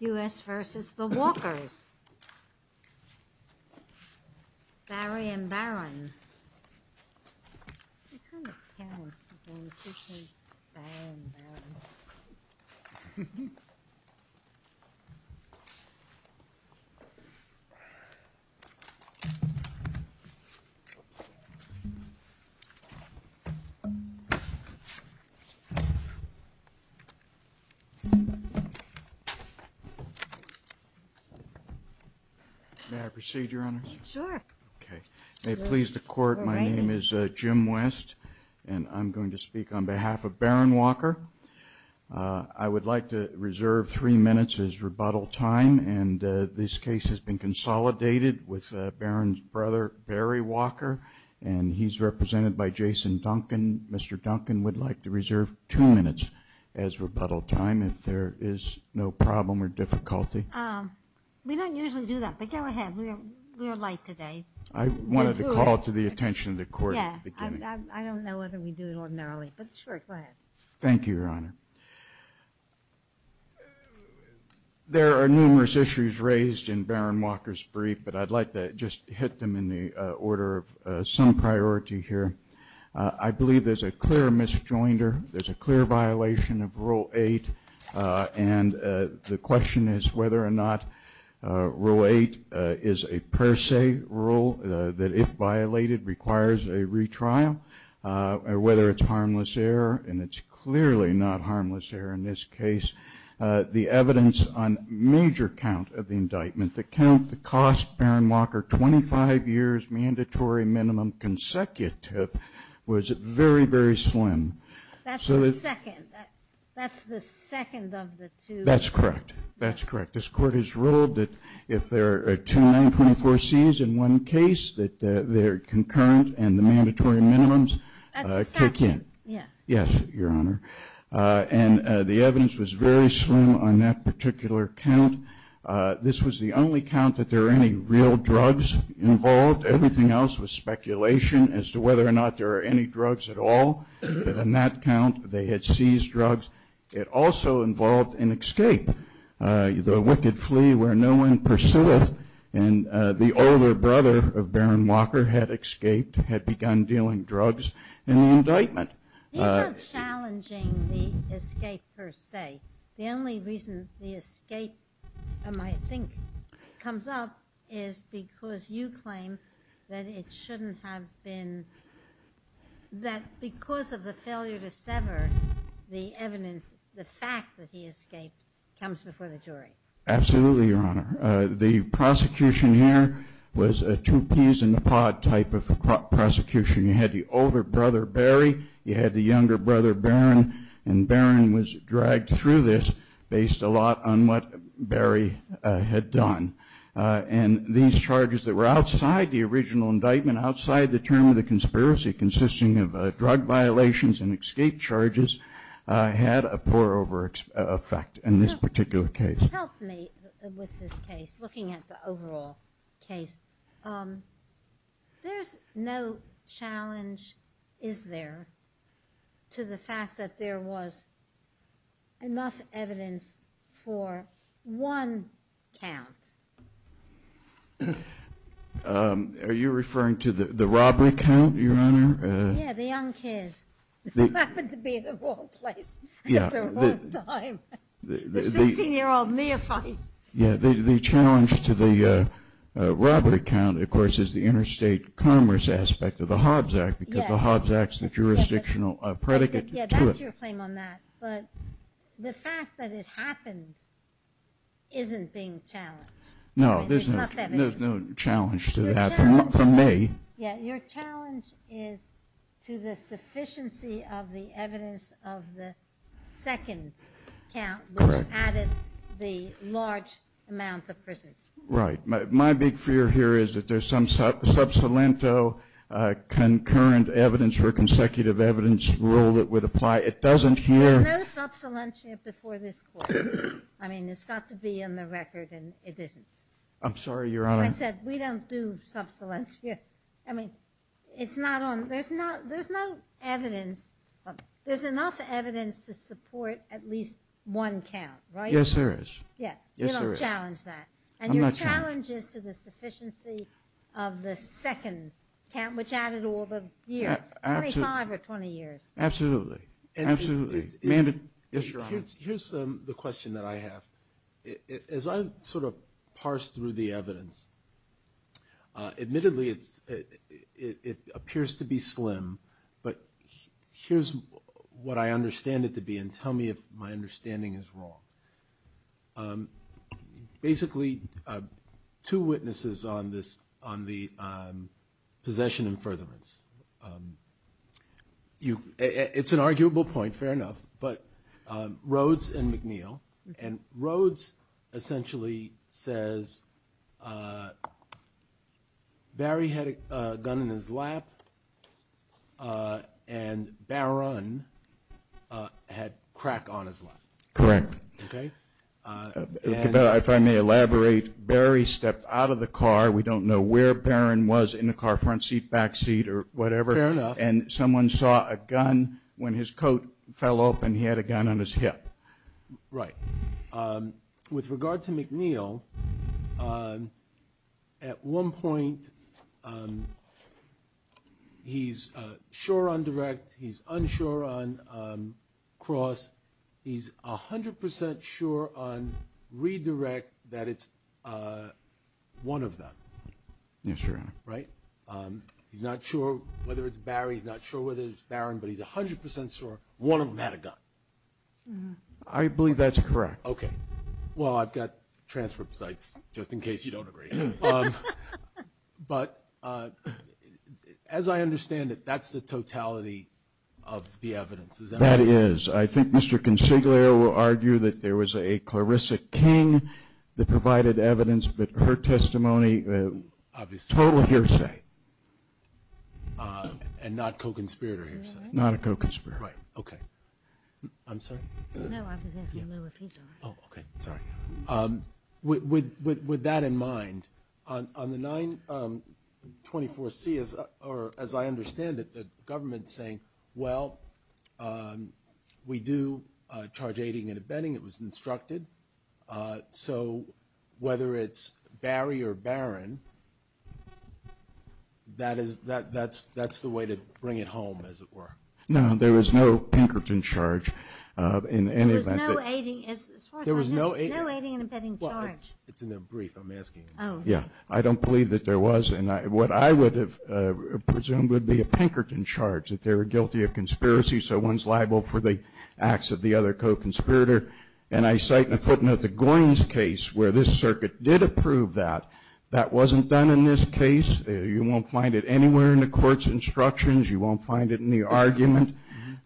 U.S. v. The Walkers Barry and Barron Jim West Barron Walker There are numerous issues raised in Barron Walker's brief, but I'd like to just hit them in the order of some priority here. I believe there's a clear misjoinder, there's a clear violation of Rule 8, and the question is whether or not Rule 8 is a per se rule, that if violated requires a retrial, or whether it's harmless error, and it's clearly not harmless error in this case, the evidence on major count of the indictment, the count that cost Barron Walker 25 years mandatory minimum consecutive, was very, very slim. That's the second. That's the second of the two. That's correct. That's correct. This Court has ruled that if there are two 924Cs in one case, that they're concurrent and the mandatory minimums kick in. That's the second. Yeah. Yes, Your Honor. And the evidence was very slim on that particular count. This was the only count that there were any real drugs involved. Everything else was speculation as to whether or not there were any drugs at all. But on that count, they had seized drugs. It also involved an escape, the wicked flee where no one pursueth, and the older brother of Barron Walker had escaped, had begun dealing drugs in the indictment. He's not challenging the escape per se. The only reason the escape, I think, comes up is because you claim that it shouldn't have been, that because of the failure to sever, the fact that he escaped comes before the jury. Absolutely, Your Honor. The prosecution here was a two peas in a pod type of prosecution. You had the older brother, Barry. You had the younger brother, Barron. And Barron was dragged through this based a lot on what Barry had done. And these charges that were outside the original indictment, outside the term of the conspiracy consisting of drug violations and escape charges had a pour-over effect in this particular case. To help me with this case, looking at the overall case, there's no challenge, is there, to the fact that there was enough evidence for one count. Are you referring to the robbery count, Your Honor? Yeah, the young kid who happened to be in the wrong place at the wrong time. The 16-year-old neophyte. Yeah, the challenge to the robbery count, of course, is the interstate commerce aspect of the Hobbs Act because the Hobbs Act's the jurisdictional predicate to it. Yeah, that's your claim on that. But the fact that it happened isn't being challenged. No, there's no challenge to that from me. Yeah, your challenge is to the sufficiency of the evidence of the second count, which added the large amount of prisoners. Right. My big fear here is that there's some sub saliento concurrent evidence or consecutive evidence rule that would apply. There's no sub salientia before this court. I mean, it's got to be in the record, and it isn't. I'm sorry, Your Honor. I said we don't do sub salientia. I mean, there's no evidence. There's enough evidence to support at least one count, right? Yes, there is. Yeah, you don't challenge that. And your challenge is to the sufficiency of the second count, which added all the years, 25 or 20 years. Absolutely, absolutely. Your Honor, here's the question that I have. As I sort of parse through the evidence, admittedly it appears to be slim, but here's what I understand it to be, and tell me if my understanding is wrong. Basically, two witnesses on the possession and furtherance. It's an arguable point, fair enough. But Rhodes and McNeil. And Rhodes essentially says Barry had a gun in his lap, and Barron had crack on his lap. Correct. If I may elaborate, Barry stepped out of the car. We don't know where Barron was in the car, front seat, back seat, or whatever. Fair enough. And someone saw a gun. When his coat fell open, he had a gun on his hip. Right. With regard to McNeil, at one point he's sure on direct, he's unsure on cross. He's 100% sure on redirect that it's one of them. Yes, Your Honor. Right? He's not sure whether it's Barry, he's not sure whether it's Barron, but he's 100% sure one of them had a gun. I believe that's correct. Okay. Well, I've got transfer sites, just in case you don't agree. But as I understand it, that's the totality of the evidence. That is. I think Mr. Consiglio will argue that there was a Clarissa King that provided evidence, but her testimony, total hearsay. And not co-conspirator hearsay? Not a co-conspirator. Right. Okay. I'm sorry? No, I was asking if he's all right. Oh, okay. Sorry. With that in mind, on the 924C, as I understand it, the government's saying, well, we do charge aiding and abetting. It was instructed. So whether it's Barry or Barron, that's the way to bring it home, as it were. No, there was no Pinkerton charge. There was no aiding and abetting charge. It's in their brief, I'm asking. Oh. Yeah. I don't believe that there was, and what I would have presumed would be a Pinkerton charge, that they were guilty of conspiracy, so one's liable for the acts of the other co-conspirator. And I cite in a footnote the Goins case where this circuit did approve that. That wasn't done in this case. You won't find it anywhere in the court's instructions. You won't find it in the argument.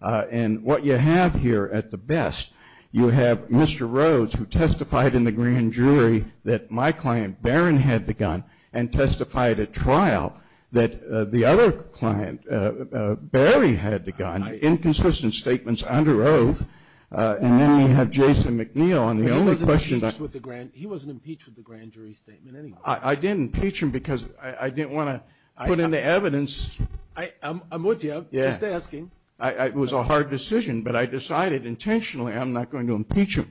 And what you have here at the best, you have Mr. Rhodes who testified in the grand jury that my client, Barron, had the gun and testified at trial that the other client, Barry, had the gun, inconsistent statements under oath. And then you have Jason McNeil. He wasn't impeached with the grand jury statement anyway. I didn't impeach him because I didn't want to put in the evidence. I'm with you, just asking. It was a hard decision, but I decided intentionally I'm not going to impeach him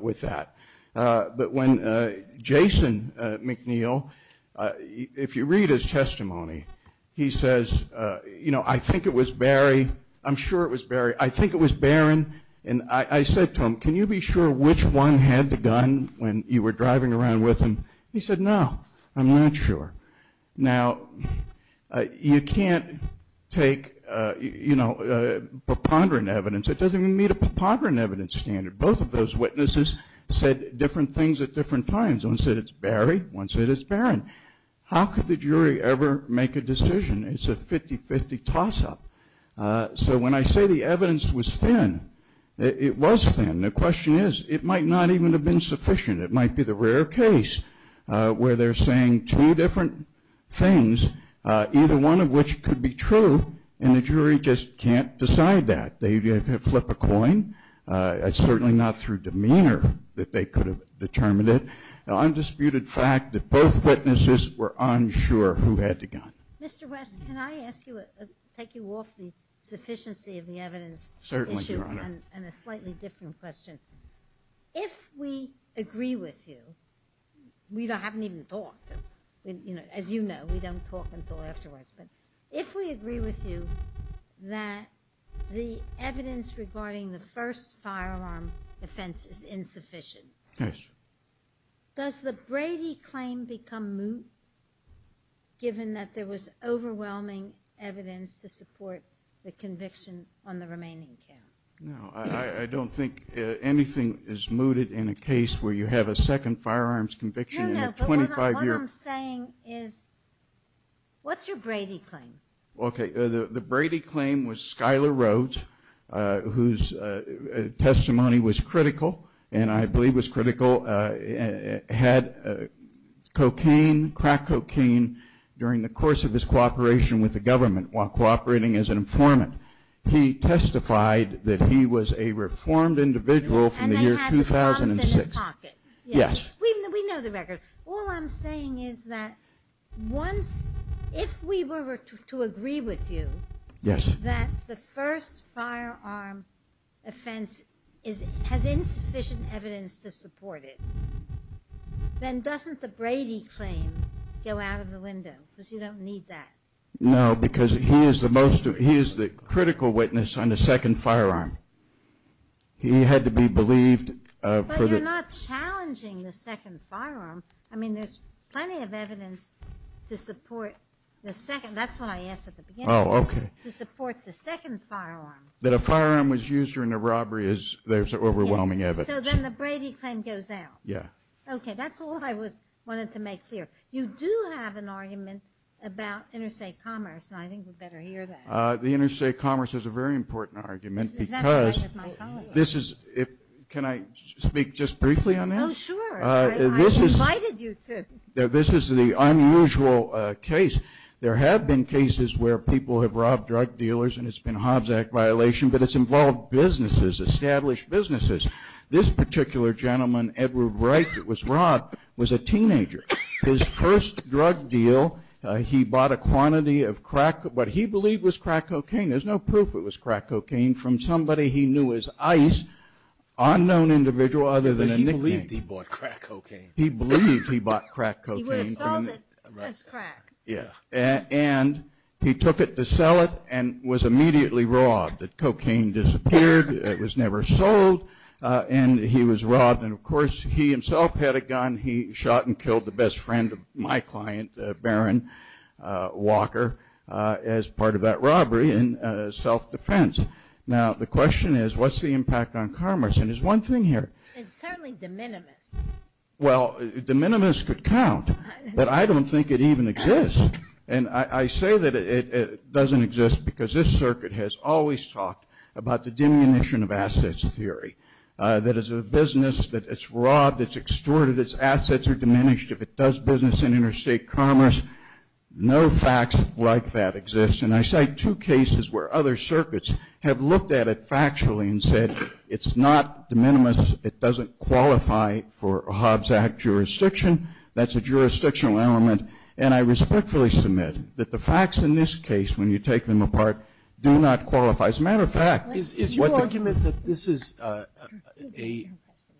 with that. But when Jason McNeil, if you read his testimony, he says, you know, I think it was Barry. I'm sure it was Barry. I think it was Barron. And I said to him, can you be sure which one had the gun when you were driving around with him? He said, no, I'm not sure. Now, you can't take, you know, preponderant evidence. It doesn't even meet a preponderant evidence standard. Both of those witnesses said different things at different times. One said it's Barry. One said it's Barron. How could the jury ever make a decision? It's a 50-50 toss-up. So when I say the evidence was thin, it was thin. The question is, it might not even have been sufficient. It might be the rare case where they're saying two different things, either one of which could be true, and the jury just can't decide that. They flip a coin. It's certainly not through demeanor that they could have determined it. Undisputed fact that both witnesses were unsure who had the gun. Mr. West, can I ask you, take you off the sufficiency of the evidence issue? Certainly, Your Honor. And a slightly different question. If we agree with you, we haven't even talked. As you know, we don't talk until afterwards. But if we agree with you that the evidence regarding the first firearm offense is insufficient, does the Brady claim become moot, given that there was overwhelming evidence to support the conviction on the remaining count? No. I don't think anything is mooted in a case where you have a second firearms conviction in a 25-year. No, no. But what I'm saying is, what's your Brady claim? Okay. The Brady claim was Skyler Rhodes, whose testimony was critical, and I believe was critical, had cocaine, crack cocaine, during the course of his cooperation with the government while cooperating as an informant. He testified that he was a reformed individual from the year 2006. And that he had the bombs in his pocket. Yes. We know the record. All I'm saying is that once, if we were to agree with you, Yes. that the first firearm offense has insufficient evidence to support it, then doesn't the Brady claim go out of the window? Because you don't need that. No, because he is the most, he is the critical witness on the second firearm. He had to be believed. But you're not challenging the second firearm. I mean, there's plenty of evidence to support the second. That's what I asked at the beginning. Oh, okay. To support the second firearm. That a firearm was used during a robbery, there's overwhelming evidence. So then the Brady claim goes out. Yeah. Okay, that's all I wanted to make clear. You do have an argument about interstate commerce, and I think we better hear that. The interstate commerce is a very important argument because this is, Can I speak just briefly on that? Oh, sure. I invited you to. This is the unusual case. There have been cases where people have robbed drug dealers, and it's been a Hobbs Act violation, but it's involved businesses, established businesses. This particular gentleman, Edward Wright, that was robbed, was a teenager. His first drug deal, he bought a quantity of crack, what he believed was crack cocaine. There's no proof it was crack cocaine from somebody he knew as Ice, unknown individual other than a nickname. But he believed he bought crack cocaine. He believed he bought crack cocaine. He would have sold it as crack. Yeah. And he took it to sell it and was immediately robbed. The cocaine disappeared. It was never sold, and he was robbed. And, of course, he himself had a gun. He shot and killed the best friend of my client, Baron Walker, as part of that robbery in self-defense. Now, the question is, what's the impact on commerce? And there's one thing here. It's certainly de minimis. Well, de minimis could count, but I don't think it even exists. And I say that it doesn't exist because this circuit has always talked about the diminution of assets theory, that as a business that it's robbed, it's extorted, its assets are diminished. If it does business in interstate commerce, no facts like that exist. And I cite two cases where other circuits have looked at it factually and said it's not de minimis. It doesn't qualify for Hobbs Act jurisdiction. That's a jurisdictional element. And I respectfully submit that the facts in this case, when you take them apart, do not qualify. As a matter of fact, what the ---- Is your argument that this is a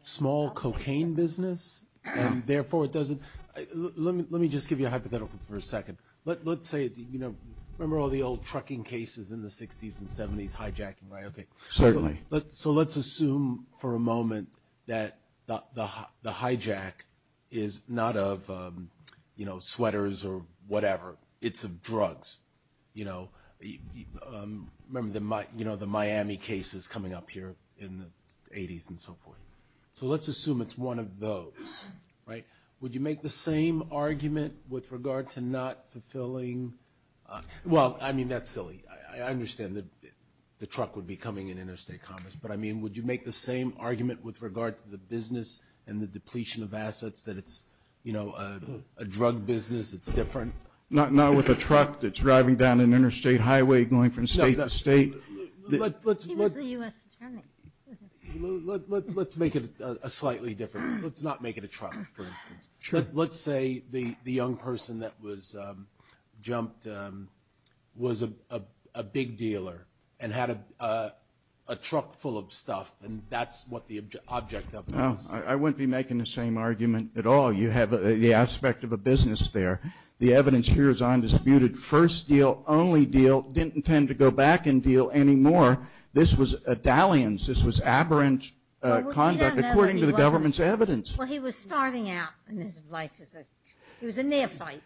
small cocaine business, and therefore it doesn't ---- let me just give you a hypothetical for a second. Let's say, you know, remember all the old trucking cases in the 60s and 70s, hijacking, right? Certainly. So let's assume for a moment that the hijack is not of, you know, sweaters or whatever, it's of drugs. You know, remember the Miami cases coming up here in the 80s and so forth. So let's assume it's one of those, right? Would you make the same argument with regard to not fulfilling ---- Well, I mean, that's silly. I understand the truck would be coming in interstate commerce, but, I mean, would you make the same argument with regard to the business and the depletion of assets that it's, you know, a drug business that's different? Not with a truck that's driving down an interstate highway going from state to state. He was the U.S. Attorney. Let's make it slightly different. Let's not make it a truck, for instance. Sure. Let's say the young person that was jumped was a big dealer and had a truck full of stuff, and that's what the object of it is. I wouldn't be making the same argument at all. You have the aspect of a business there. The evidence here is undisputed. First deal, only deal, didn't intend to go back and deal anymore. This was a dalliance. This was aberrant conduct according to the government's evidence. Well, he was starting out in his life as a neophyte.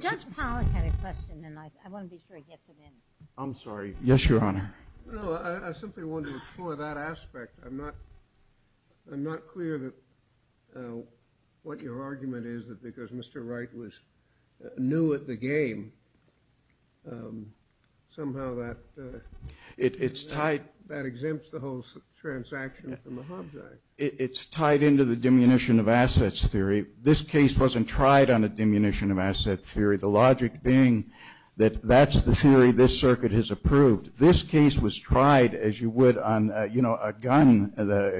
Judge Pollack had a question, and I want to be sure he gets it in. I'm sorry. Yes, Your Honor. No, I simply wanted to explore that aspect. I'm not clear that what your argument is that because Mr. Wright was new at the game, somehow that exempts the whole transaction from the Hobbs Act. It's tied into the diminution of assets theory. This case wasn't tried on a diminution of assets theory, the logic being that that's the theory this circuit has approved. This case was tried, as you would on, you know, a gun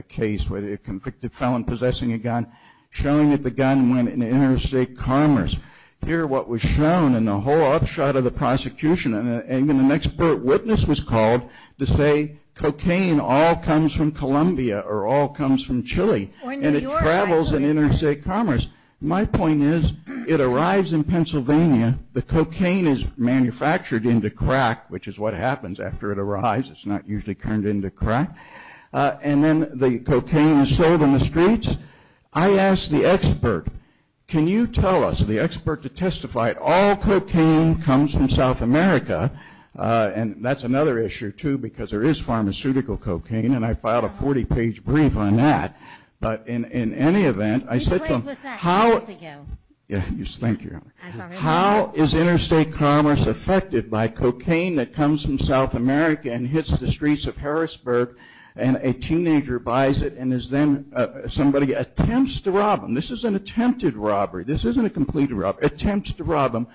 case where a convicted felon possessing a gun, showing that the gun went into interstate commerce. Here what was shown in the whole upshot of the prosecution, and even an expert witness was called to say, cocaine all comes from Columbia or all comes from Chile, and it travels in interstate commerce. My point is it arrives in Pennsylvania. The cocaine is manufactured into crack, which is what happens after it arrives. It's not usually turned into crack. And then the cocaine is sold in the streets. I asked the expert, can you tell us, the expert that testified, all cocaine comes from South America. And that's another issue, too, because there is pharmaceutical cocaine, and I filed a 40-page brief on that. But in any event, I said to him, how is interstate commerce affected by cocaine that comes from South America and hits the streets of Harrisburg, and a teenager buys it and is then, somebody attempts to rob him. This is an attempted robbery. This isn't a complete robbery. Attempts to rob him.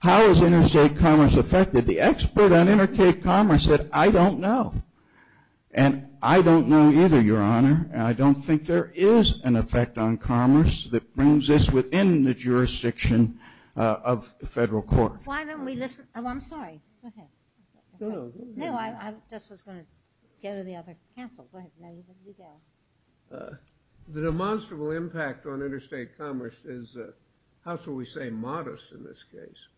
How is interstate commerce affected? The expert on interstate commerce said, I don't know. And I don't know either, Your Honor, and I don't think there is an effect on commerce that brings this within the jurisdiction of the federal court. Why don't we listen? Oh, I'm sorry. Go ahead. No, no, go ahead. No, I just was going to go to the other counsel. Go ahead. The demonstrable impact on interstate commerce is, how shall we say, modest in this case.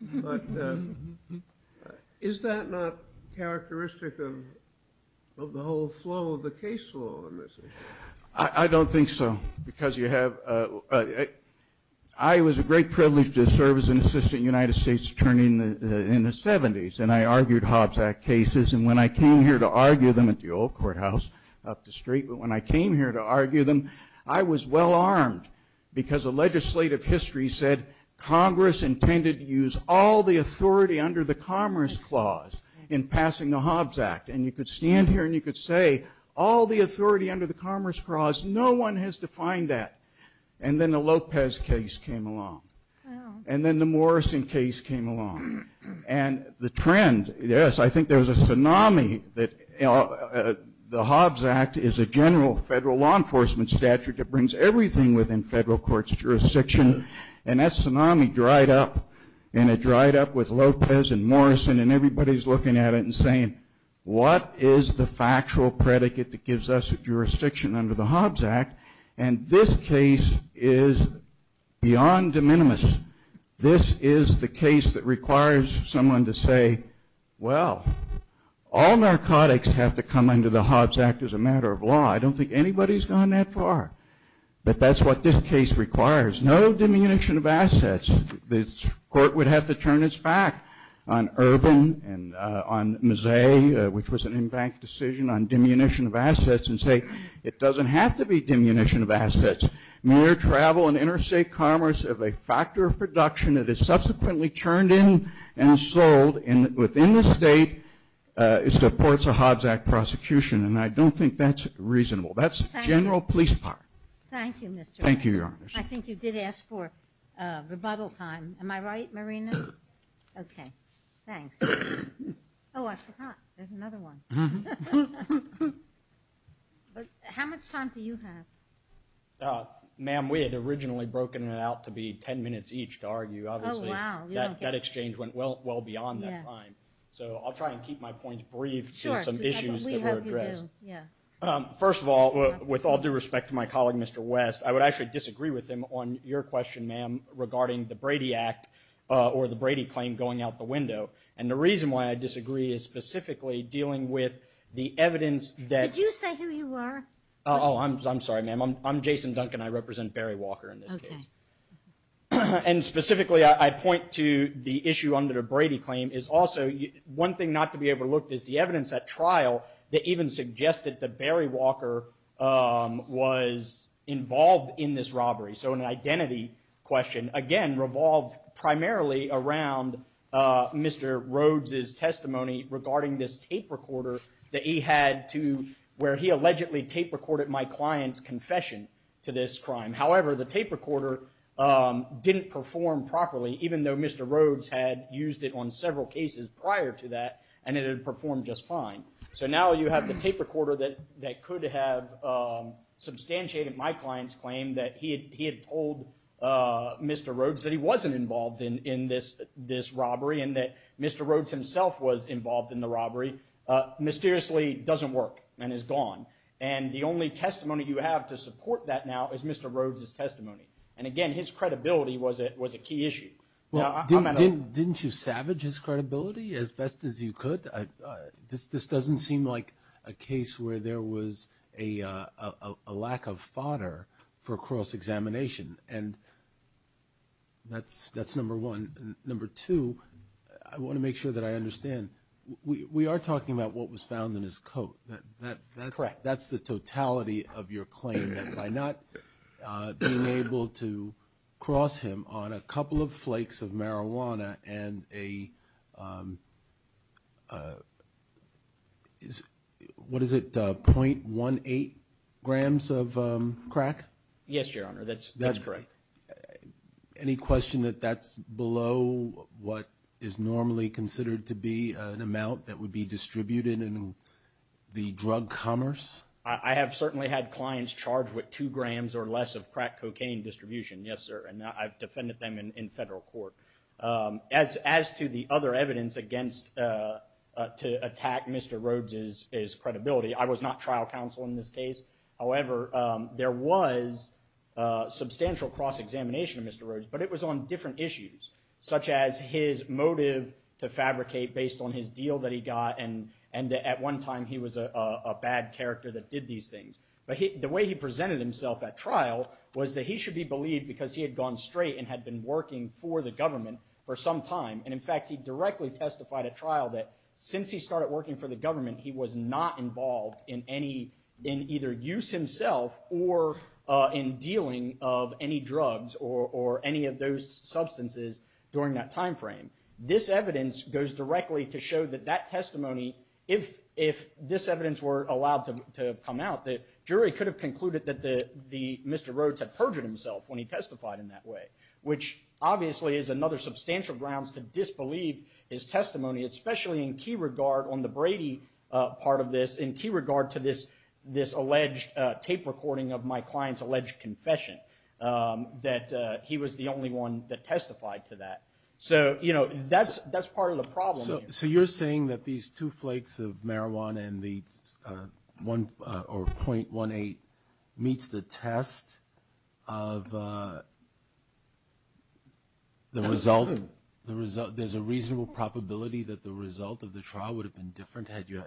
But is that not characteristic of the whole flow of the case law on this issue? I don't think so, because you have ‑‑ I was a great privilege to serve as an assistant United States attorney in the 70s, and I argued Hobbs Act cases. And when I came here to argue them at the old courthouse up the street, I was well armed, because the legislative history said, Congress intended to use all the authority under the Commerce Clause in passing the Hobbs Act. And you could stand here and you could say, all the authority under the Commerce Clause, no one has defined that. And then the Lopez case came along. And then the Morrison case came along. And the trend, yes, I think there was a tsunami that the Hobbs Act is a general federal law enforcement statute that brings everything within federal court's jurisdiction. And that tsunami dried up. And it dried up with Lopez and Morrison, and everybody's looking at it and saying, what is the factual predicate that gives us a jurisdiction under the Hobbs Act? And this case is beyond de minimis. This is the case that requires someone to say, well, all narcotics have to come under the Hobbs Act as a matter of law. I don't think anybody's gone that far. But that's what this case requires. No diminution of assets. This court would have to turn its back on Urban and on Mazzei, which was an in-bank decision, on diminution of assets and say, it doesn't have to be diminution of assets. Mere travel and interstate commerce of a factor of production that is supports a Hobbs Act prosecution. And I don't think that's reasonable. That's general police power. Thank you, Mr. Rice. Thank you, Your Honor. I think you did ask for rebuttal time. Am I right, Marina? Okay. Thanks. Oh, I forgot. There's another one. How much time do you have? Ma'am, we had originally broken it out to be ten minutes each to argue. Obviously, that exchange went well beyond that time. So I'll try and keep my points brief to some issues that were addressed. Sure. We hope you do. Yeah. First of all, with all due respect to my colleague, Mr. West, I would actually disagree with him on your question, ma'am, regarding the Brady Act or the Brady claim going out the window. And the reason why I disagree is specifically dealing with the evidence that – Did you say who you are? Oh, I'm sorry, ma'am. I'm Jason Duncan. I represent Barry Walker in this case. Okay. And specifically, I point to the issue under the Brady claim is also – one thing not to be overlooked is the evidence at trial that even suggested that Barry Walker was involved in this robbery. So an identity question, again, revolved primarily around Mr. Rhodes' testimony regarding this tape recorder that he had to – where he allegedly tape recorded my client's confession to this crime. However, the tape recorder didn't perform properly, even though Mr. Rhodes had used it on several cases prior to that, and it had performed just fine. So now you have the tape recorder that could have substantiated my client's claim that he had told Mr. Rhodes that he wasn't involved in this robbery and that Mr. Rhodes himself was involved in the robbery, mysteriously doesn't work and is gone. And the only testimony you have to support that now is Mr. Rhodes' testimony. And again, his credibility was a key issue. Well, didn't you savage his credibility as best as you could? This doesn't seem like a case where there was a lack of fodder for cross-examination, and that's number one. Number two, I want to make sure that I understand. We are talking about what was found in his coat. Correct. That's the totality of your claim, that by not being able to cross him on a couple of flakes of marijuana and a – what is it, 0.18 grams of crack? Yes, Your Honor, that's correct. Any question that that's below what is normally considered to be an amount that would be distributed in the drug commerce? I have certainly had clients charged with two grams or less of crack cocaine distribution, yes, sir, and I've defended them in federal court. As to the other evidence against – to attack Mr. Rhodes' credibility, I was not trial counsel in this case. However, there was substantial cross-examination of Mr. Rhodes, but it was on different issues, such as his motive to fabricate based on his deal that he got and that at one time he was a bad character that did these things. But the way he presented himself at trial was that he should be believed because he had gone straight and had been working for the government for some time. And, in fact, he directly testified at trial that since he started working for the government, he was not involved in either use himself or in dealing of any drugs or any of those substances during that time frame. This evidence goes directly to show that that testimony, if this evidence were allowed to have come out, the jury could have concluded that Mr. Rhodes had perjured himself when he testified in that way, especially in key regard on the Brady part of this, in key regard to this alleged tape recording of my client's alleged confession, that he was the only one that testified to that. So, you know, that's part of the problem here. So you're saying that these two flakes of marijuana and the .18 meets the test of the result? There's a reasonable probability that the result of the trial would have been different had you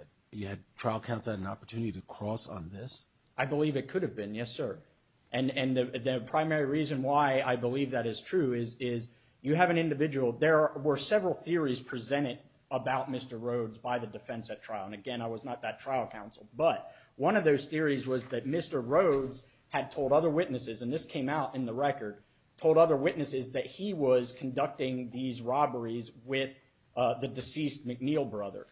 had trial counsel had an opportunity to cross on this? I believe it could have been, yes, sir. And the primary reason why I believe that is true is you have an individual. There were several theories presented about Mr. Rhodes by the defense at trial. And, again, I was not that trial counsel. But one of those theories was that Mr. Rhodes had told other witnesses, and this came out in the record, told other witnesses that he was conducting these robberies with the deceased McNeill brother.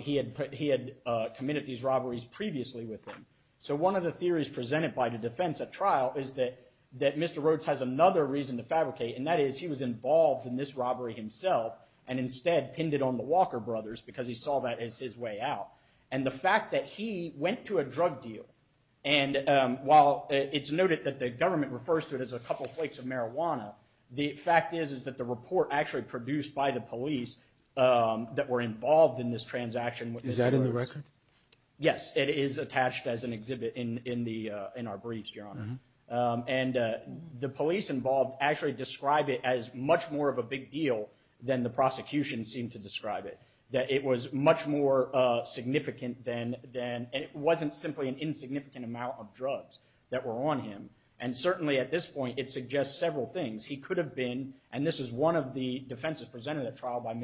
He had committed these robberies previously with him. So one of the theories presented by the defense at trial is that Mr. Rhodes has another reason to fabricate, and that is he was involved in this robbery himself and instead pinned it on the Walker brothers because he saw that as his way out. And the fact that he went to a drug deal, and while it's noted that the government refers to it as a couple of flakes of marijuana, the fact is is that the report actually produced by the police that were involved in this transaction. Is that in the record? Yes, it is attached as an exhibit in our briefs, Your Honor. And the police involved actually describe it as much more of a big deal than the prosecution seemed to describe it, that it was much more significant than, and it wasn't simply an insignificant amount of drugs that were on him. And certainly at this point it suggests several things. He could have been, and this is one of the defenses presented at trial by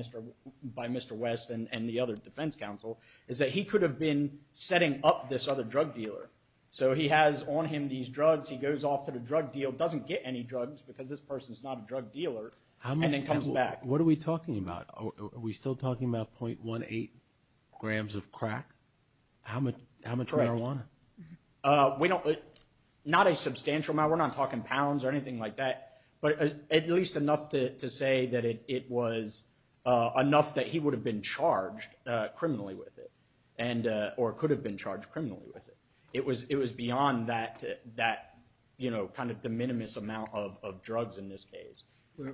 Mr. West and the other defense counsel, is that he could have been setting up this other drug dealer. So he has on him these drugs. He goes off to the drug deal, doesn't get any drugs because this person is not a drug dealer, and then comes back. What are we talking about? Are we still talking about .18 grams of crack? How much marijuana? Not a substantial amount. We're not talking pounds or anything like that, but at least enough to say that it was enough that he would have been charged criminally with it or could have been charged criminally with it. It was beyond that kind of de minimis amount of drugs in this case. Well,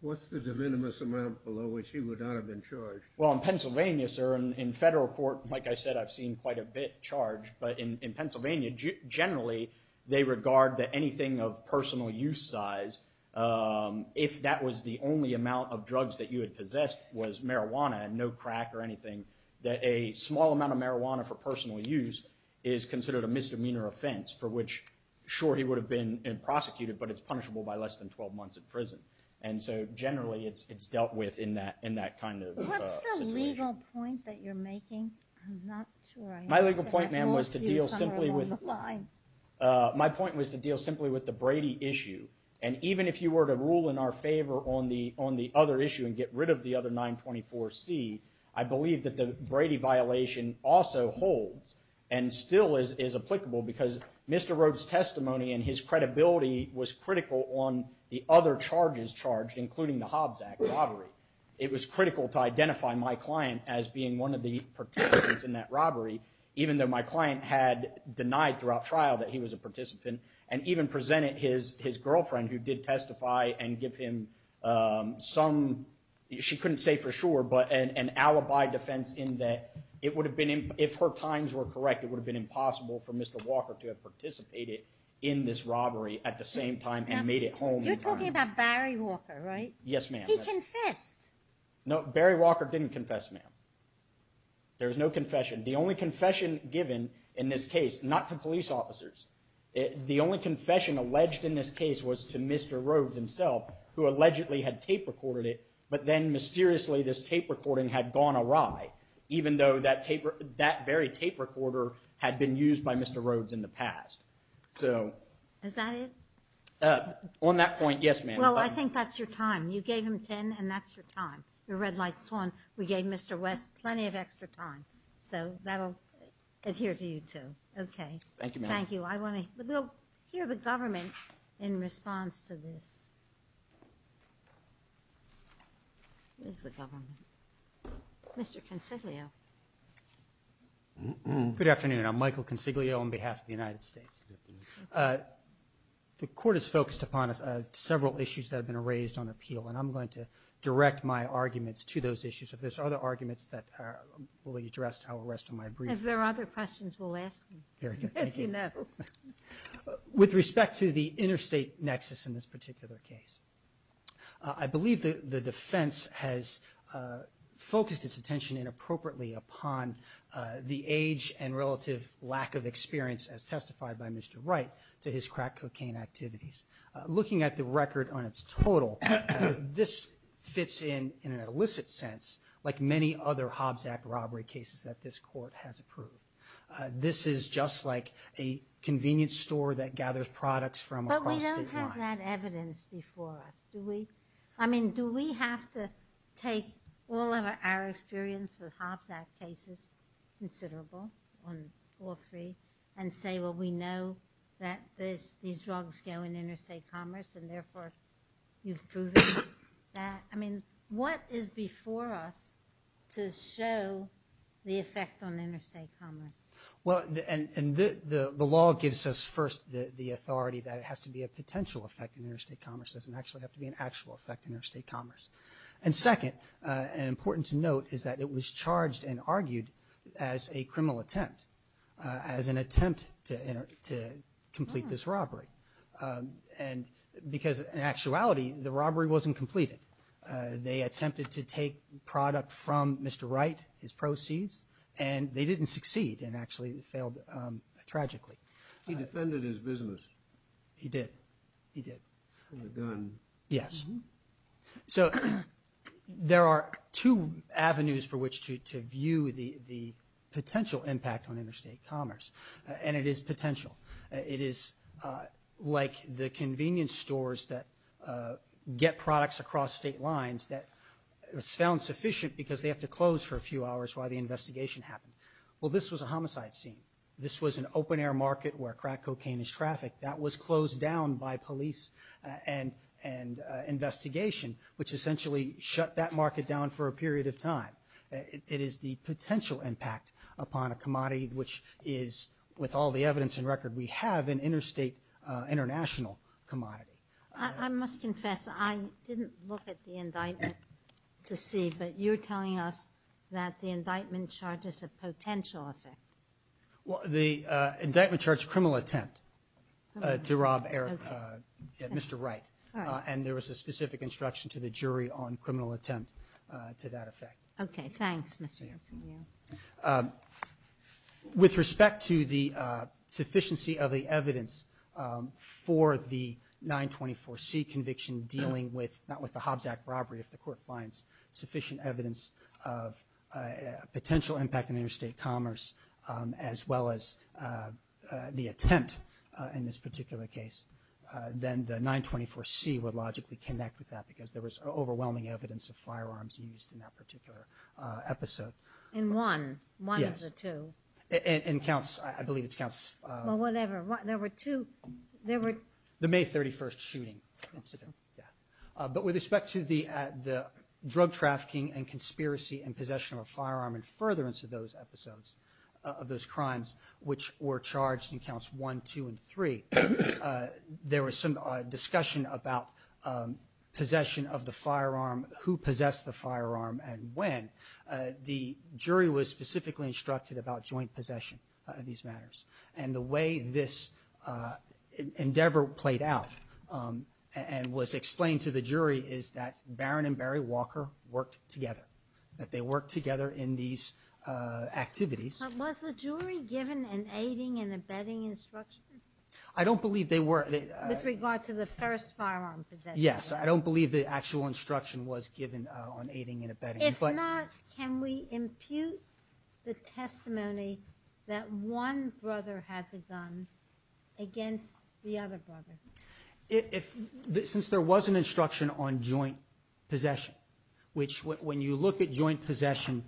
what's the de minimis amount below which he would not have been charged? Well, in Pennsylvania, sir, in federal court, like I said, I've seen quite a bit charged, but in Pennsylvania generally they regard that anything of personal use size, if that was the only amount of drugs that you had possessed was marijuana and no crack or anything, that a small amount of marijuana for personal use is considered a misdemeanor offense for which, sure, he would have been prosecuted, but it's punishable by less than 12 months in prison. And so generally it's dealt with in that kind of situation. What's the legal point that you're making? I'm not sure. My legal point, ma'am, was to deal simply with the Brady issue. And even if you were to rule in our favor on the other issue and get rid of the other 924C, I believe that the Brady violation also holds and still is applicable because Mr. Rhodes' testimony and his credibility was critical on the other charges charged, including the Hobbs Act robbery. It was critical to identify my client as being one of the participants in that robbery, even though my client had denied throughout trial that he was a participant and even presented his girlfriend, who did testify and give him some, she couldn't say for sure, but an alibi defense in that it would have been, if her times were correct, it would have been impossible for Mr. Walker to have participated in this robbery at the same time and made it home in time. You're talking about Barry Walker, right? Yes, ma'am. He confessed. No, Barry Walker didn't confess, ma'am. There was no confession. The only confession given in this case, not to police officers, the only confession alleged in this case was to Mr. Rhodes himself, who allegedly had tape recorded it, but then mysteriously this tape recording had gone awry, even though that very tape recorder had been used by Mr. Rhodes in the past. Is that it? On that point, yes, ma'am. Well, I think that's your time. You gave him 10, and that's your time. You're red like swan. We gave Mr. West plenty of extra time, so that'll adhere to you, too. Okay. Thank you, ma'am. Thank you. I want to hear the government in response to this. Where's the government? Mr. Consiglio. Good afternoon. I'm Michael Consiglio on behalf of the United States. The court is focused upon several issues that have been raised on appeal, and I'm going to direct my arguments to those issues. If there's other arguments that will be addressed, I will rest on my brief. If there are other questions, we'll ask them. Very good. Yes, you know. With respect to the interstate nexus in this particular case, I believe the defense has focused its attention inappropriately upon the age and relative lack of experience, as testified by Mr. Wright, to his crack cocaine activities. Looking at the record on its total, this fits in, in an illicit sense, like many other Hobbs Act robbery cases that this court has approved. This is just like a convenience store that gathers products from across state lines. But we don't have that evidence before us, do we? I mean, do we have to take all of our experience with Hobbs Act cases, considerable on all three, and say, well, we know that these drugs go in interstate commerce and therefore you've proven that? I mean, what is before us to show the effect on interstate commerce? The law gives us, first, the authority that it has to be a potential effect in interstate commerce. It doesn't actually have to be an actual effect in interstate commerce. Second, and important to note, is that it was charged and argued as a criminal attempt, as an attempt to complete this robbery. And because, in actuality, the robbery wasn't completed. They attempted to take product from Mr. Wright, his proceeds, and they didn't succeed and actually failed tragically. He defended his business. He did. He did. With a gun. Yes. So there are two avenues for which to view the potential impact on interstate commerce. And it is potential. It is like the convenience stores that get products across state lines that sound sufficient because they have to close for a few hours while the investigation happens. Well, this was a homicide scene. This was an open-air market where crack cocaine is trafficked. That was closed down by police and investigation, which essentially shut that market down for a period of time. It is the potential impact upon a commodity, which is, with all the evidence and record we have, an interstate international commodity. I must confess, I didn't look at the indictment to see, but you're telling us that the indictment charges a potential effect. Well, the indictment charged a criminal attempt to rob Mr. Wright. And there was a specific instruction to the jury on criminal attempt to that effect. Okay. Thanks, Mr. Hudson. Thank you. With respect to the sufficiency of the evidence for the 924C conviction dealing with not with the Hobbs Act robbery, if the court finds sufficient evidence of a potential impact on interstate commerce, as well as the attempt in this particular case, then the 924C would logically connect with that because there was overwhelming evidence of firearms used in that particular episode. In one? One of the two? Yes. In counts, I believe it's counts... Well, whatever. There were two... The May 31st shooting incident, yeah. But with respect to the drug trafficking and conspiracy and possession of a firearm and furtherance of those episodes of those crimes, which were charged in counts one, two, and three, there was some discussion about possession of the firearm, who possessed the firearm and when. The jury was specifically instructed about joint possession of these matters. And the way this endeavor played out and was explained to the jury is that Barron and Barry Walker worked together, that they worked together in these activities. But was the jury given an aiding and abetting instruction? I don't believe they were. With regard to the first firearm possession? Yes. I don't believe the actual instruction was given on aiding and abetting. If not, can we impute the testimony that one brother had the gun against the other brother? Since there was an instruction on joint possession, which when you look at joint possession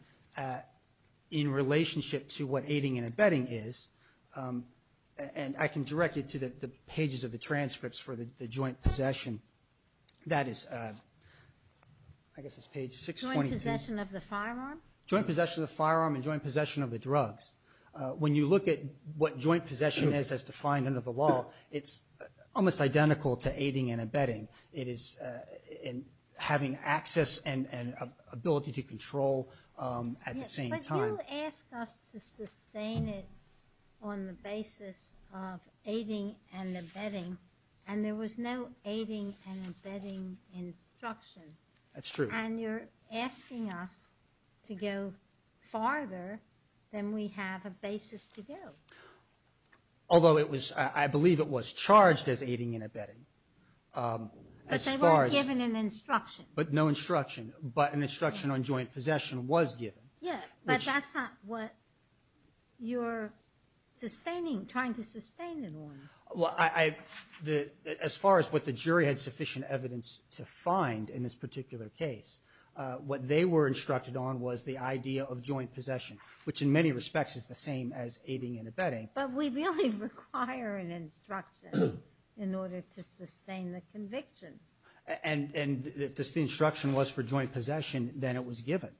in relationship to what aiding and abetting is, and I can direct you to the pages of the transcripts for the joint possession. That is, I guess it's page 623. Joint possession of the firearm? Joint possession of the firearm and joint possession of the drugs. When you look at what joint possession is as defined under the law, it's almost identical to aiding and abetting. It is having access and ability to control at the same time. But you asked us to sustain it on the basis of aiding and abetting, and there was no aiding and abetting instruction. That's true. And you're asking us to go farther than we have a basis to go. Although I believe it was charged as aiding and abetting. But they weren't given an instruction. But no instruction. But an instruction on joint possession was given. But that's not what you're sustaining, trying to sustain it on. As far as what the jury had sufficient evidence to find in this particular case, what they were instructed on was the idea of joint possession, which in many respects is the same as aiding and abetting. But we really require an instruction in order to sustain the conviction. And if the instruction was for joint possession, then it was given.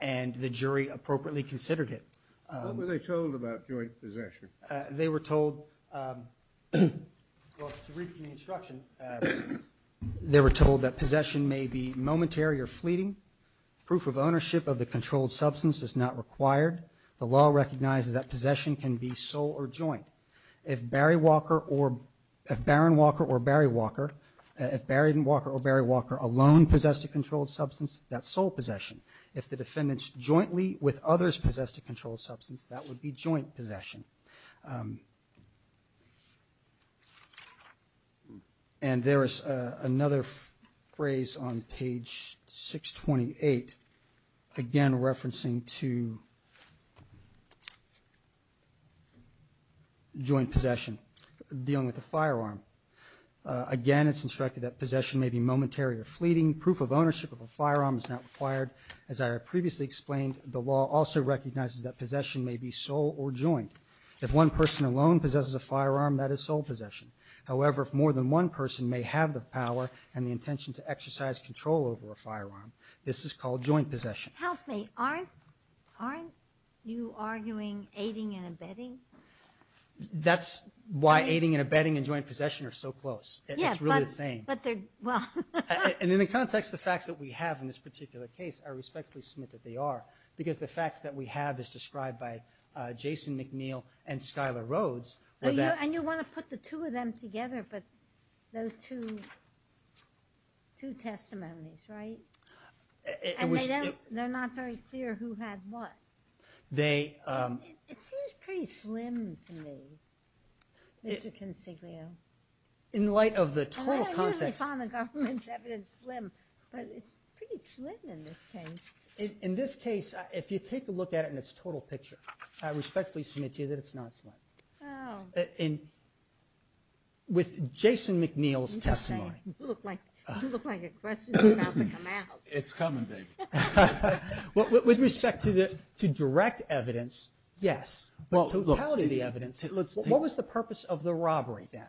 And the jury appropriately considered it. What were they told about joint possession? They were told, well, to read from the instruction, they were told that possession may be momentary or fleeting. Proof of ownership of the controlled substance is not required. The law recognizes that possession can be sole or joint. If Baron Walker or Barry Walker alone possessed a controlled substance, that's sole possession. If the defendants jointly with others possessed a controlled substance, that would be joint possession. And there is another phrase on page 628, again referencing to joint possession, dealing with a firearm. Again, it's instructed that possession may be momentary or fleeting. Proof of ownership of a firearm is not required. As I previously explained, the law also recognizes that possession may be sole or joint. If one person alone possesses a firearm, that is sole possession. However, if more than one person may have the power and the intention to exercise control over a firearm, this is called joint possession. Help me. Aren't you arguing aiding and abetting? That's why aiding and abetting and joint possession are so close. It's really the same. And in the context of the facts that we have in this particular case, I respectfully submit that they are, because the facts that we have is described by Jason McNeil and Skyler Rhodes. And you want to put the two of them together, but those two testimonies, right? And they're not very clear who had what. It seems pretty slim to me, Mr. Consiglio. In light of the total context. I usually find the government's evidence slim, but it's pretty slim in this case. In this case, if you take a look at it in its total picture, I respectfully submit to you that it's not slim. With Jason McNeil's testimony. You look like a question about to come out. It's coming, baby. With respect to direct evidence, yes. But totality of the evidence, what was the purpose of the robbery then?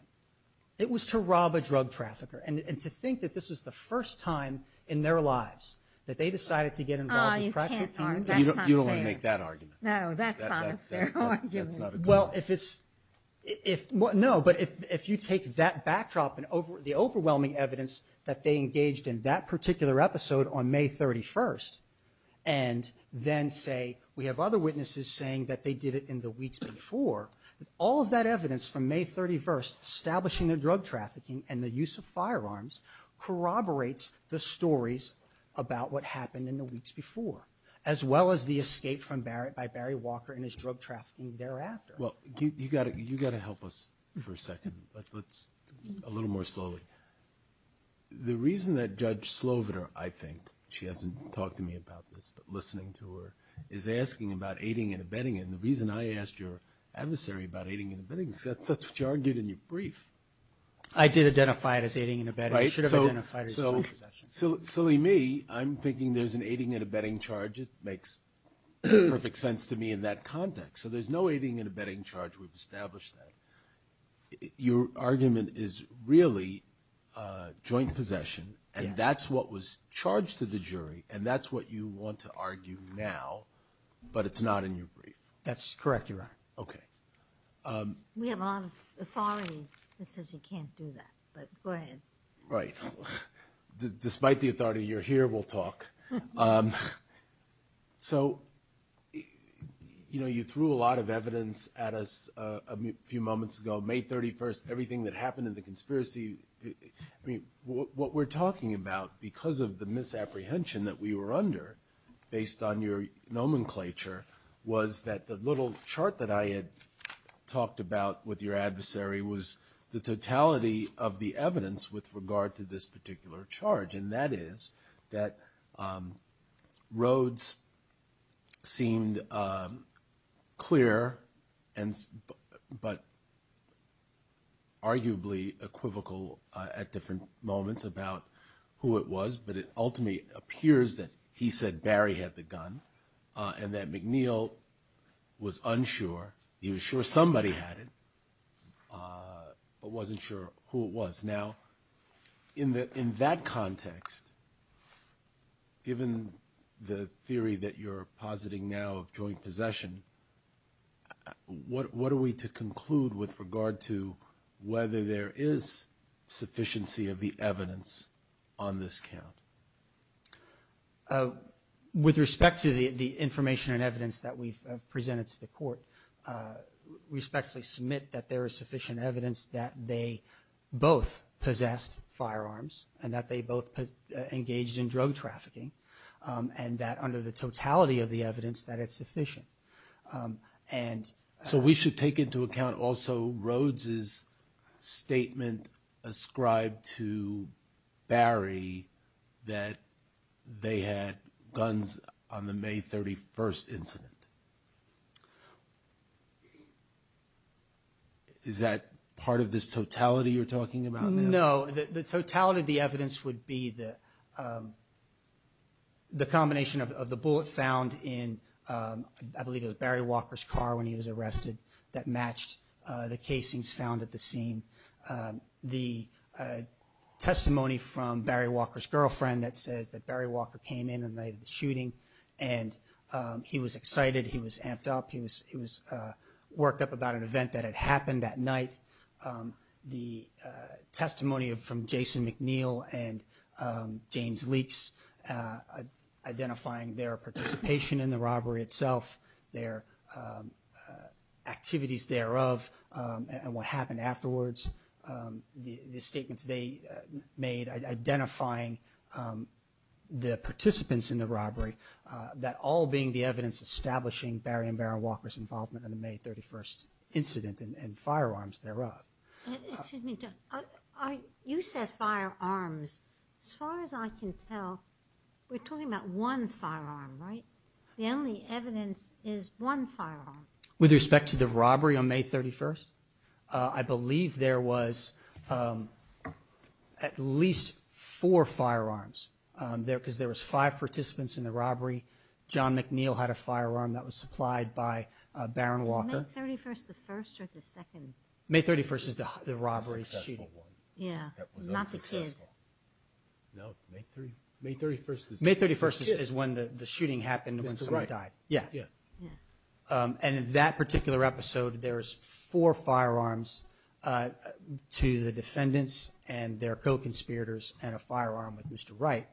It was to rob a drug trafficker. And to think that this was the first time in their lives that they decided to get involved with crack cocaine. You don't want to make that argument. No, that's not a fair argument. Well, if it's – no, but if you take that backdrop and the overwhelming evidence that they engaged in that particular episode on May 31st, and then say we have other witnesses saying that they did it in the weeks before, all of that evidence from May 31st establishing the drug trafficking and the use of firearms corroborates the stories about what happened in the weeks before, as well as the escape by Barry Walker and his drug trafficking thereafter. Well, you've got to help us for a second. Let's do it a little more slowly. The reason that Judge Sloviter, I think, she hasn't talked to me about this, but listening to her, is asking about aiding and abetting. And the reason I asked your adversary about aiding and abetting is that's what you argued in your brief. I did identify it as aiding and abetting. I should have identified it as joint possession. So, silly me, I'm thinking there's an aiding and abetting charge. It makes perfect sense to me in that context. So there's no aiding and abetting charge. We've established that. Your argument is really joint possession, and that's what was charged to the jury, and that's what you want to argue now, but it's not in your brief. That's correct, Your Honor. Okay. We have a lot of authority that says he can't do that, but go ahead. Right. Despite the authority, you're here, we'll talk. So, you know, you threw a lot of evidence at us a few moments ago, May 31st, everything that happened in the conspiracy. I mean, what we're talking about, because of the misapprehension that we were under, based on your nomenclature, was that the little chart that I had talked about with your adversary was the totality of the evidence with regard to this particular charge, and that is that Rhodes seemed clear but arguably equivocal at different moments about who it was, but it ultimately appears that he said Barry had the gun and that McNeil was unsure. He was sure somebody had it, but wasn't sure who it was. Now, in that context, given the theory that you're positing now of joint possession, what are we to conclude with regard to whether there is sufficiency of the evidence on this count? With respect to the information and evidence that we've presented to the court, we respectfully submit that there is sufficient evidence that they both possessed firearms and that they both engaged in drug trafficking, and that under the totality of the evidence that it's sufficient. So we should take into account also Rhodes' statement ascribed to Barry that they had guns on the May 31st incident. Is that part of this totality you're talking about now? No, the totality of the evidence would be the combination of the bullet found in, I believe it was Barry Walker's car when he was arrested, that matched the casings found at the scene. The testimony from Barry Walker's girlfriend that says that Barry Walker came in the night of the shooting and he was excited, he was amped up, he was worked up about an event that had happened that night. The testimony from Jason McNeil and James Leakes identifying their participation in the robbery itself, their activities thereof, and what happened afterwards. The statements they made identifying the participants in the robbery, that all being the evidence establishing Barry and Barron Walker's involvement in the May 31st incident and firearms thereof. You said firearms. As far as I can tell, we're talking about one firearm, right? The only evidence is one firearm. With respect to the robbery on May 31st, I believe there was at least four firearms. Because there was five participants in the robbery. John McNeil had a firearm that was supplied by Barron Walker. May 31st, the first or the second? May 31st is the robbery shooting. Yeah, not the kid. No, May 31st is the kid. May 31st is when the shooting happened and when someone died. Mr. Wright. Yeah. And in that particular episode, there was four firearms to the defendants and their co-conspirators and a firearm with Mr. Wright.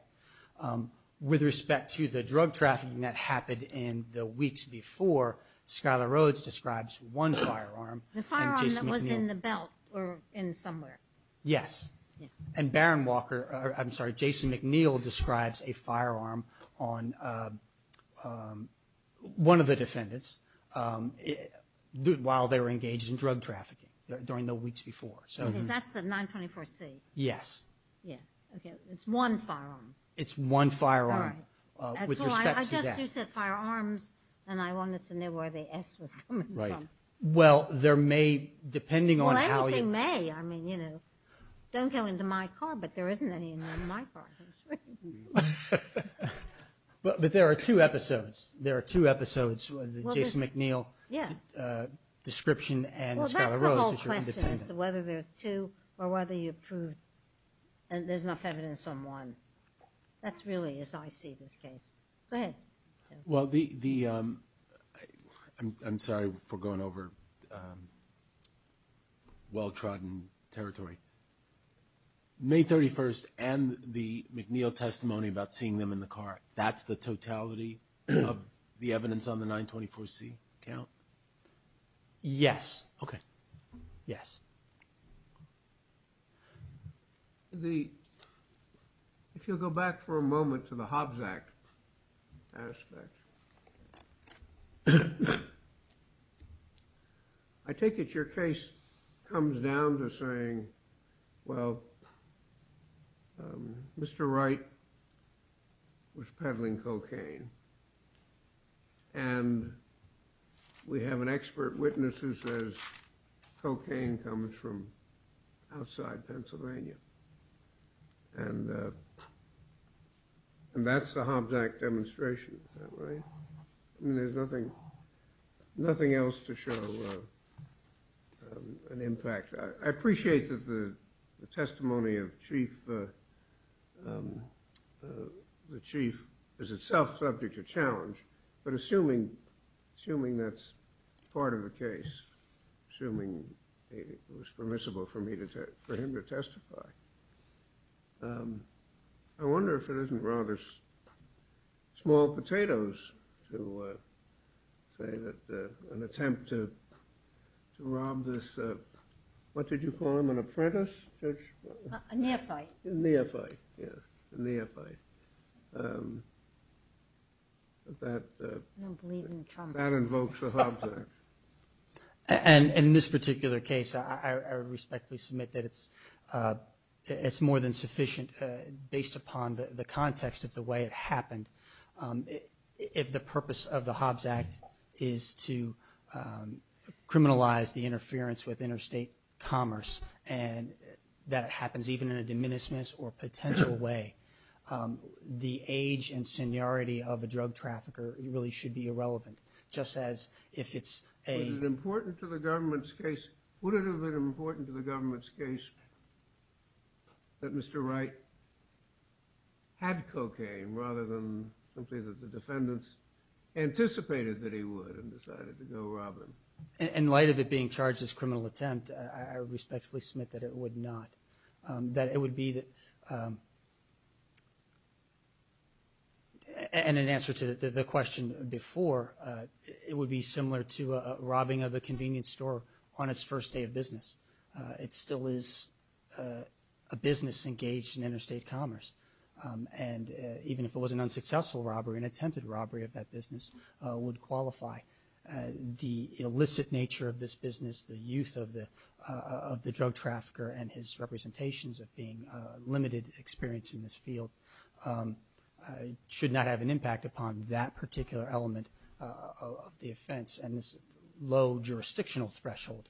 With respect to the drug trafficking that happened in the weeks before, Skylar Rhodes describes one firearm. The firearm that was in the belt or in somewhere. Yes. And Barron Walker, I'm sorry, Jason McNeil describes a firearm on one of the defendants while they were engaged in drug trafficking during the weeks before. Because that's the 924C. Yes. Yeah. Okay. It's one firearm. It's one firearm. All right. With respect to that. I just said firearms and I wanted to know where the S was coming from. Right. Well, there may, depending on how you. Well, anything may. I mean, you know, don't go into my car, but there isn't any in my car. But there are two episodes. There are two episodes, the Jason McNeil description and Skylar Rhodes, which are independent. There's enough evidence on one. That's really as I see this case. Go ahead. Well, I'm sorry for going over well-trodden territory. May 31st and the McNeil testimony about seeing them in the car, that's the totality of the evidence on the 924C count? Yes. Okay. Yes. If you'll go back for a moment to the Hobbs Act aspect, I take it your case comes down to saying, well, Mr. Wright was peddling cocaine. And we have an expert witness who says cocaine comes from outside Pennsylvania. And that's the Hobbs Act demonstration. Is that right? I mean, there's nothing else to show an impact. I appreciate that the testimony of the chief is itself subject to challenge. But assuming that's part of the case, assuming it was permissible for him to testify, I wonder if it isn't rather small potatoes to say that an attempt to rob this, what did you call him, an apprentice? A neophyte. A neophyte, yes, a neophyte. I don't believe in Trump. That invokes the Hobbs Act. And in this particular case, I respectfully submit that it's more than sufficient, based upon the context of the way it happened. If the purpose of the Hobbs Act is to criminalize the interference with interstate commerce and that it happens even in a diminutiveness or potential way, the age and seniority of a drug trafficker really should be irrelevant, just as if it's a Would it have been important to the government's case that Mr. Wright had cocaine rather than something that the defendants anticipated that he would and decided to go rob him? In light of it being charged as a criminal attempt, I respectfully submit that it would not. That it would be, and in answer to the question before, it would be similar to robbing of a convenience store on its first day of business. It still is a business engaged in interstate commerce. And even if it was an unsuccessful robbery, an attempted robbery of that business would qualify. The illicit nature of this business, the youth of the drug trafficker and his representations of being limited experience in this field, should not have an impact upon that particular element of the offense and this low jurisdictional threshold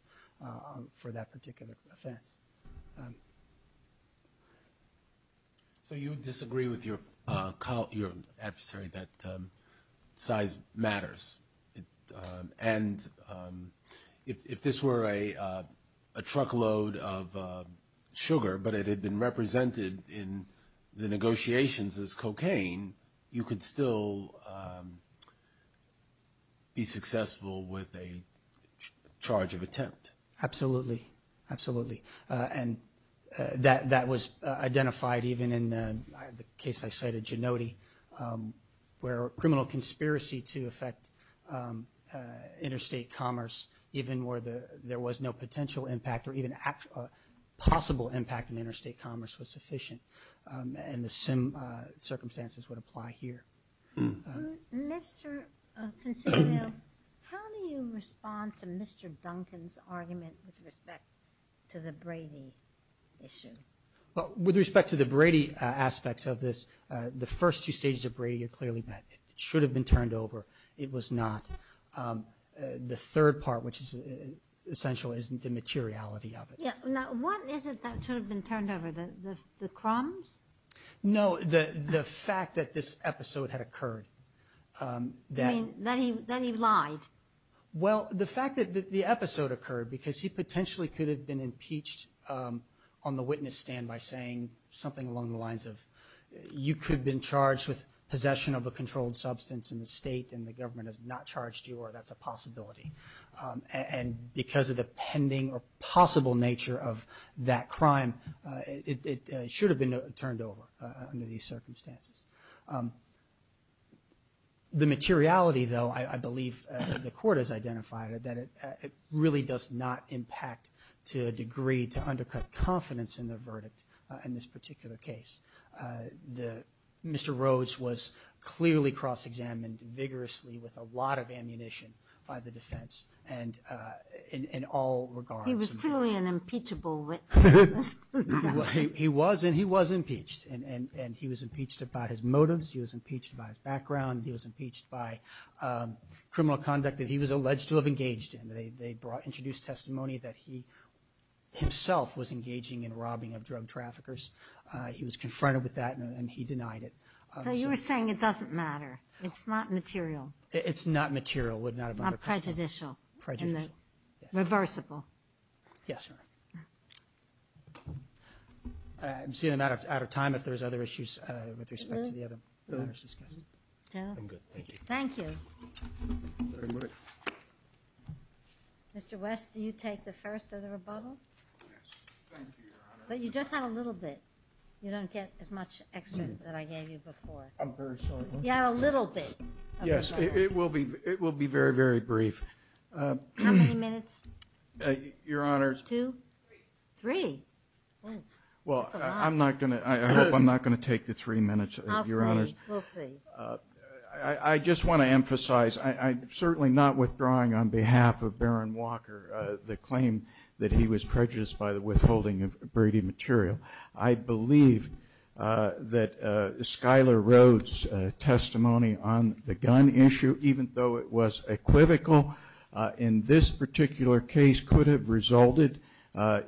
for that particular offense. So you disagree with your adversary that size matters. And if this were a truckload of sugar, but it had been represented in the negotiations as cocaine, you could still be successful with a charge of attempt. Absolutely, absolutely. And that was identified even in the case I cited, Gennotti, where a criminal conspiracy to affect interstate commerce, even where there was no potential impact or even a possible impact on interstate commerce was sufficient. And the same circumstances would apply here. Mr. Consiglio, how do you respond to Mr. Duncan's argument with respect to the Brady issue? Well, with respect to the Brady aspects of this, the first two stages of Brady are clearly met. It should have been turned over. It was not. The third part, which is essential, is the materiality of it. Now, what is it that should have been turned over? The crumbs? No, the fact that this episode had occurred. You mean that he lied? Well, the fact that the episode occurred because he potentially could have been impeached on the witness stand by saying something along the lines of, you could have been charged with possession of a controlled substance in the state and the government has not charged you or that's a possibility. And because of the pending or possible nature of that crime, it should have been turned over under these circumstances. The materiality, though, I believe the court has identified, that it really does not impact to a degree to undercut confidence in the verdict in this particular case. Mr. Rhodes was clearly cross-examined vigorously with a lot of ammunition by the defense in all regards. He was clearly an impeachable witness. He was and he was impeached. And he was impeached about his motives. He was impeached about his background. He was impeached by criminal conduct that he was alleged to have engaged in. They introduced testimony that he himself was engaging in robbing of drug traffickers. He was confronted with that and he denied it. So you were saying it doesn't matter. It's not material. It's not material. Not prejudicial. Reversible. Yes, Your Honor. I'm seeing I'm out of time if there's other issues with respect to the other matters discussed. I'm good. Thank you. Mr. West, do you take the first of the rebuttal? Yes. Thank you, Your Honor. But you just have a little bit. You don't get as much extra that I gave you before. I'm very sorry. You have a little bit. Yes, it will be very, very brief. How many minutes? Your Honor. Two? Three. Three? Well, I'm not going to take the three minutes, Your Honor. I'll see. We'll see. I just want to emphasize I'm certainly not withdrawing on behalf of Baron Walker the claim that he was prejudiced by the withholding of Brady material. I believe that Schuyler Rhodes' testimony on the gun issue, even though it was equivocal in this particular case, could have resulted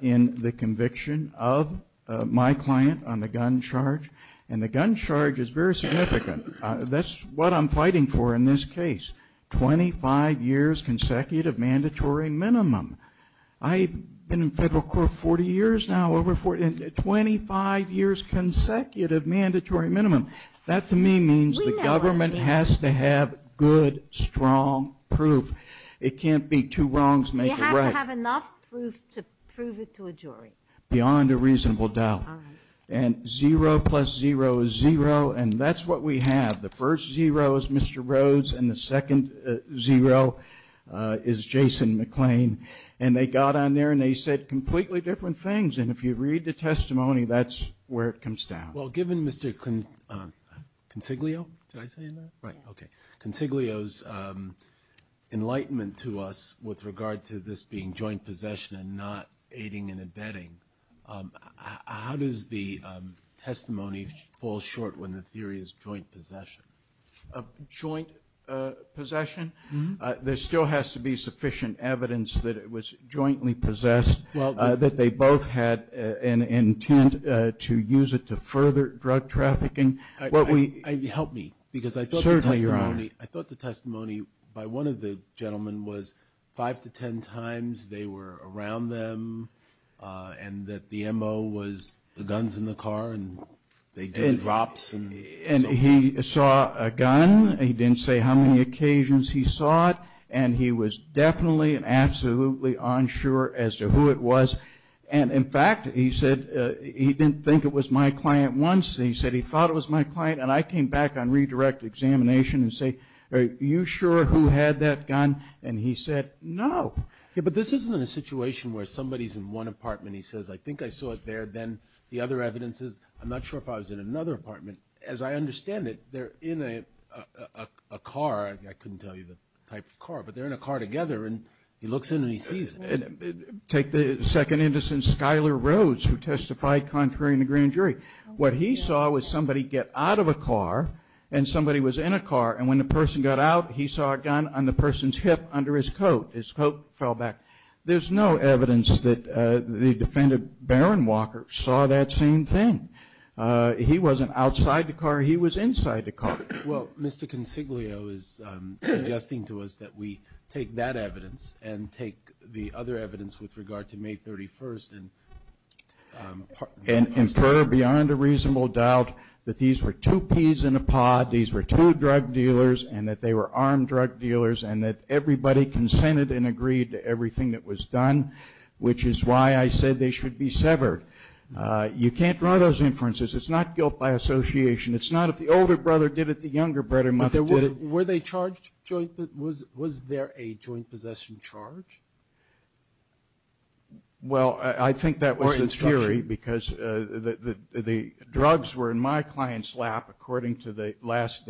in the conviction of my client on the gun charge. And the gun charge is very significant. That's what I'm fighting for in this case, 25 years consecutive mandatory minimum. I've been in federal court 40 years now, 25 years consecutive mandatory minimum. That to me means the government has to have good, strong proof. It can't be two wrongs make a right. You have to have enough proof to prove it to a jury. Beyond a reasonable doubt. And zero plus zero is zero, and that's what we have. The first zero is Mr. Rhodes, and the second zero is Jason McLean. And they got on there and they said completely different things. And if you read the testimony, that's where it comes down. Well, given Mr. Consiglio's enlightenment to us with regard to this being joint possession and not aiding and abetting, how does the testimony fall short when the theory is joint possession? Joint possession? There still has to be sufficient evidence that it was jointly possessed, that they both had an intent to use it to further drug trafficking. Help me, because I thought the testimony by one of the gentlemen was five to ten times they were around them and that the M.O. was the guns in the car and they did drops. And he saw a gun. He didn't say how many occasions he saw it, and he was definitely and absolutely unsure as to who it was. And, in fact, he said he didn't think it was my client once. He said he thought it was my client, and I came back on redirect examination and say, are you sure who had that gun? And he said, no. Yeah, but this isn't a situation where somebody's in one apartment and he says, I think I saw it there. Then the other evidence is, I'm not sure if I was in another apartment. As I understand it, they're in a car. I couldn't tell you the type of car, but they're in a car together, and he looks in and he sees it. Take the second innocent, Skyler Rhodes, who testified contrary in the grand jury. What he saw was somebody get out of a car and somebody was in a car, and when the person got out, he saw a gun on the person's hip under his coat. His coat fell back. There's no evidence that the defendant, Barron Walker, saw that same thing. He wasn't outside the car. He was inside the car. Well, Mr. Consiglio is suggesting to us that we take that evidence and take the other evidence with regard to May 31st and infer beyond a reasonable doubt that these were two peas in a pod, these were two drug dealers, and that they were armed drug dealers, and that everybody consented and agreed to everything that was done, which is why I said they should be severed. You can't draw those inferences. It's not guilt by association. It's not if the older brother did it, the younger brother must have did it. Were they charged jointly? Was there a joint possession charge? Well, I think that was the theory because the drugs were in my client's lap, according to the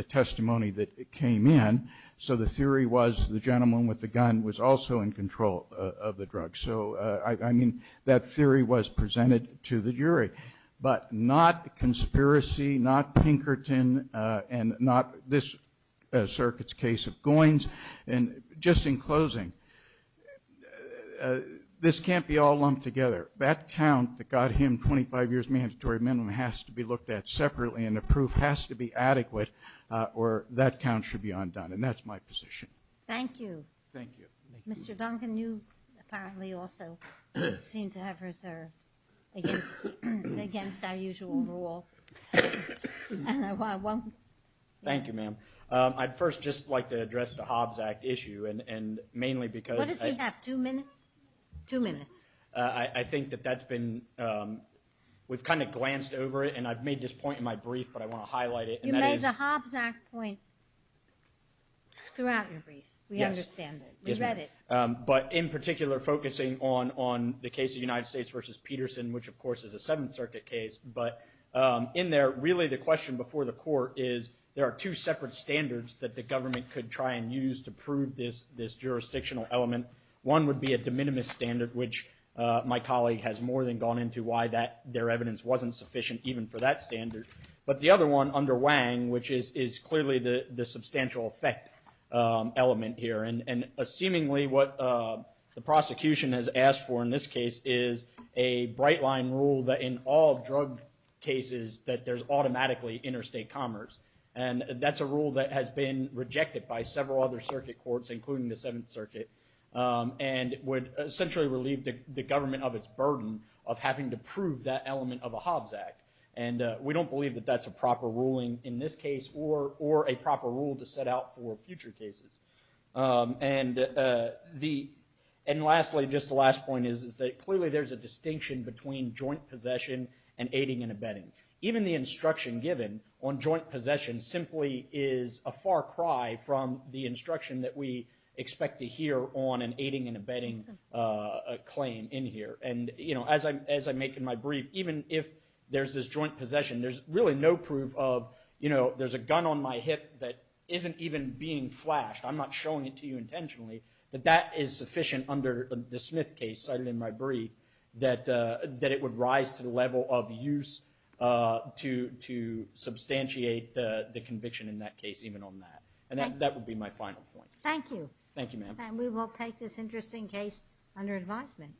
testimony that came in. So the theory was the gentleman with the gun was also in control of the drugs. So, I mean, that theory was presented to the jury. But not conspiracy, not Pinkerton, and not this circuit's case of Goins. And just in closing, this can't be all lumped together. That count that got him 25 years mandatory minimum has to be looked at separately, and the proof has to be adequate, or that count should be undone. And that's my position. Thank you. Thank you. Mr. Duncan, you apparently also seem to have reserved against our usual rule. Thank you, ma'am. I'd first just like to address the Hobbs Act issue, and mainly because I think that that's been we've kind of glanced over it, and I've made this point in my brief, but I want to highlight it. You made the Hobbs Act point throughout your brief. Yes. We understand it. We read it. But in particular, focusing on the case of the United States versus Peterson, which, of course, is a Seventh Circuit case. But in there, really the question before the court is there are two separate standards that the government could try and use to prove this jurisdictional element. One would be a de minimis standard, which my colleague has more than gone into why their evidence wasn't sufficient even for that standard. But the other one under Wang, which is clearly the substantial effect element here, and seemingly what the prosecution has asked for in this case is a bright-line rule that in all drug cases that there's automatically interstate commerce. And that's a rule that has been rejected by several other circuit courts, including the Seventh Circuit, and would essentially relieve the government of its burden of having to prove that element of a Hobbs Act. And we don't believe that that's a proper ruling in this case or a proper rule to set out for future cases. And lastly, just the last point is that clearly there's a distinction between joint possession and aiding and abetting. Even the instruction given on joint possession simply is a far cry from the instruction that we expect to hear on an aiding and abetting claim in here. And, you know, as I make in my brief, even if there's this joint possession, there's really no proof of, you know, there's a gun on my hip that isn't even being flashed. I'm not showing it to you intentionally. But that is sufficient under the Smith case cited in my brief that it would rise to the level of use to substantiate the conviction in that case even on that. And that would be my final point. Thank you. Thank you, ma'am. And we will take this interesting case under advisement.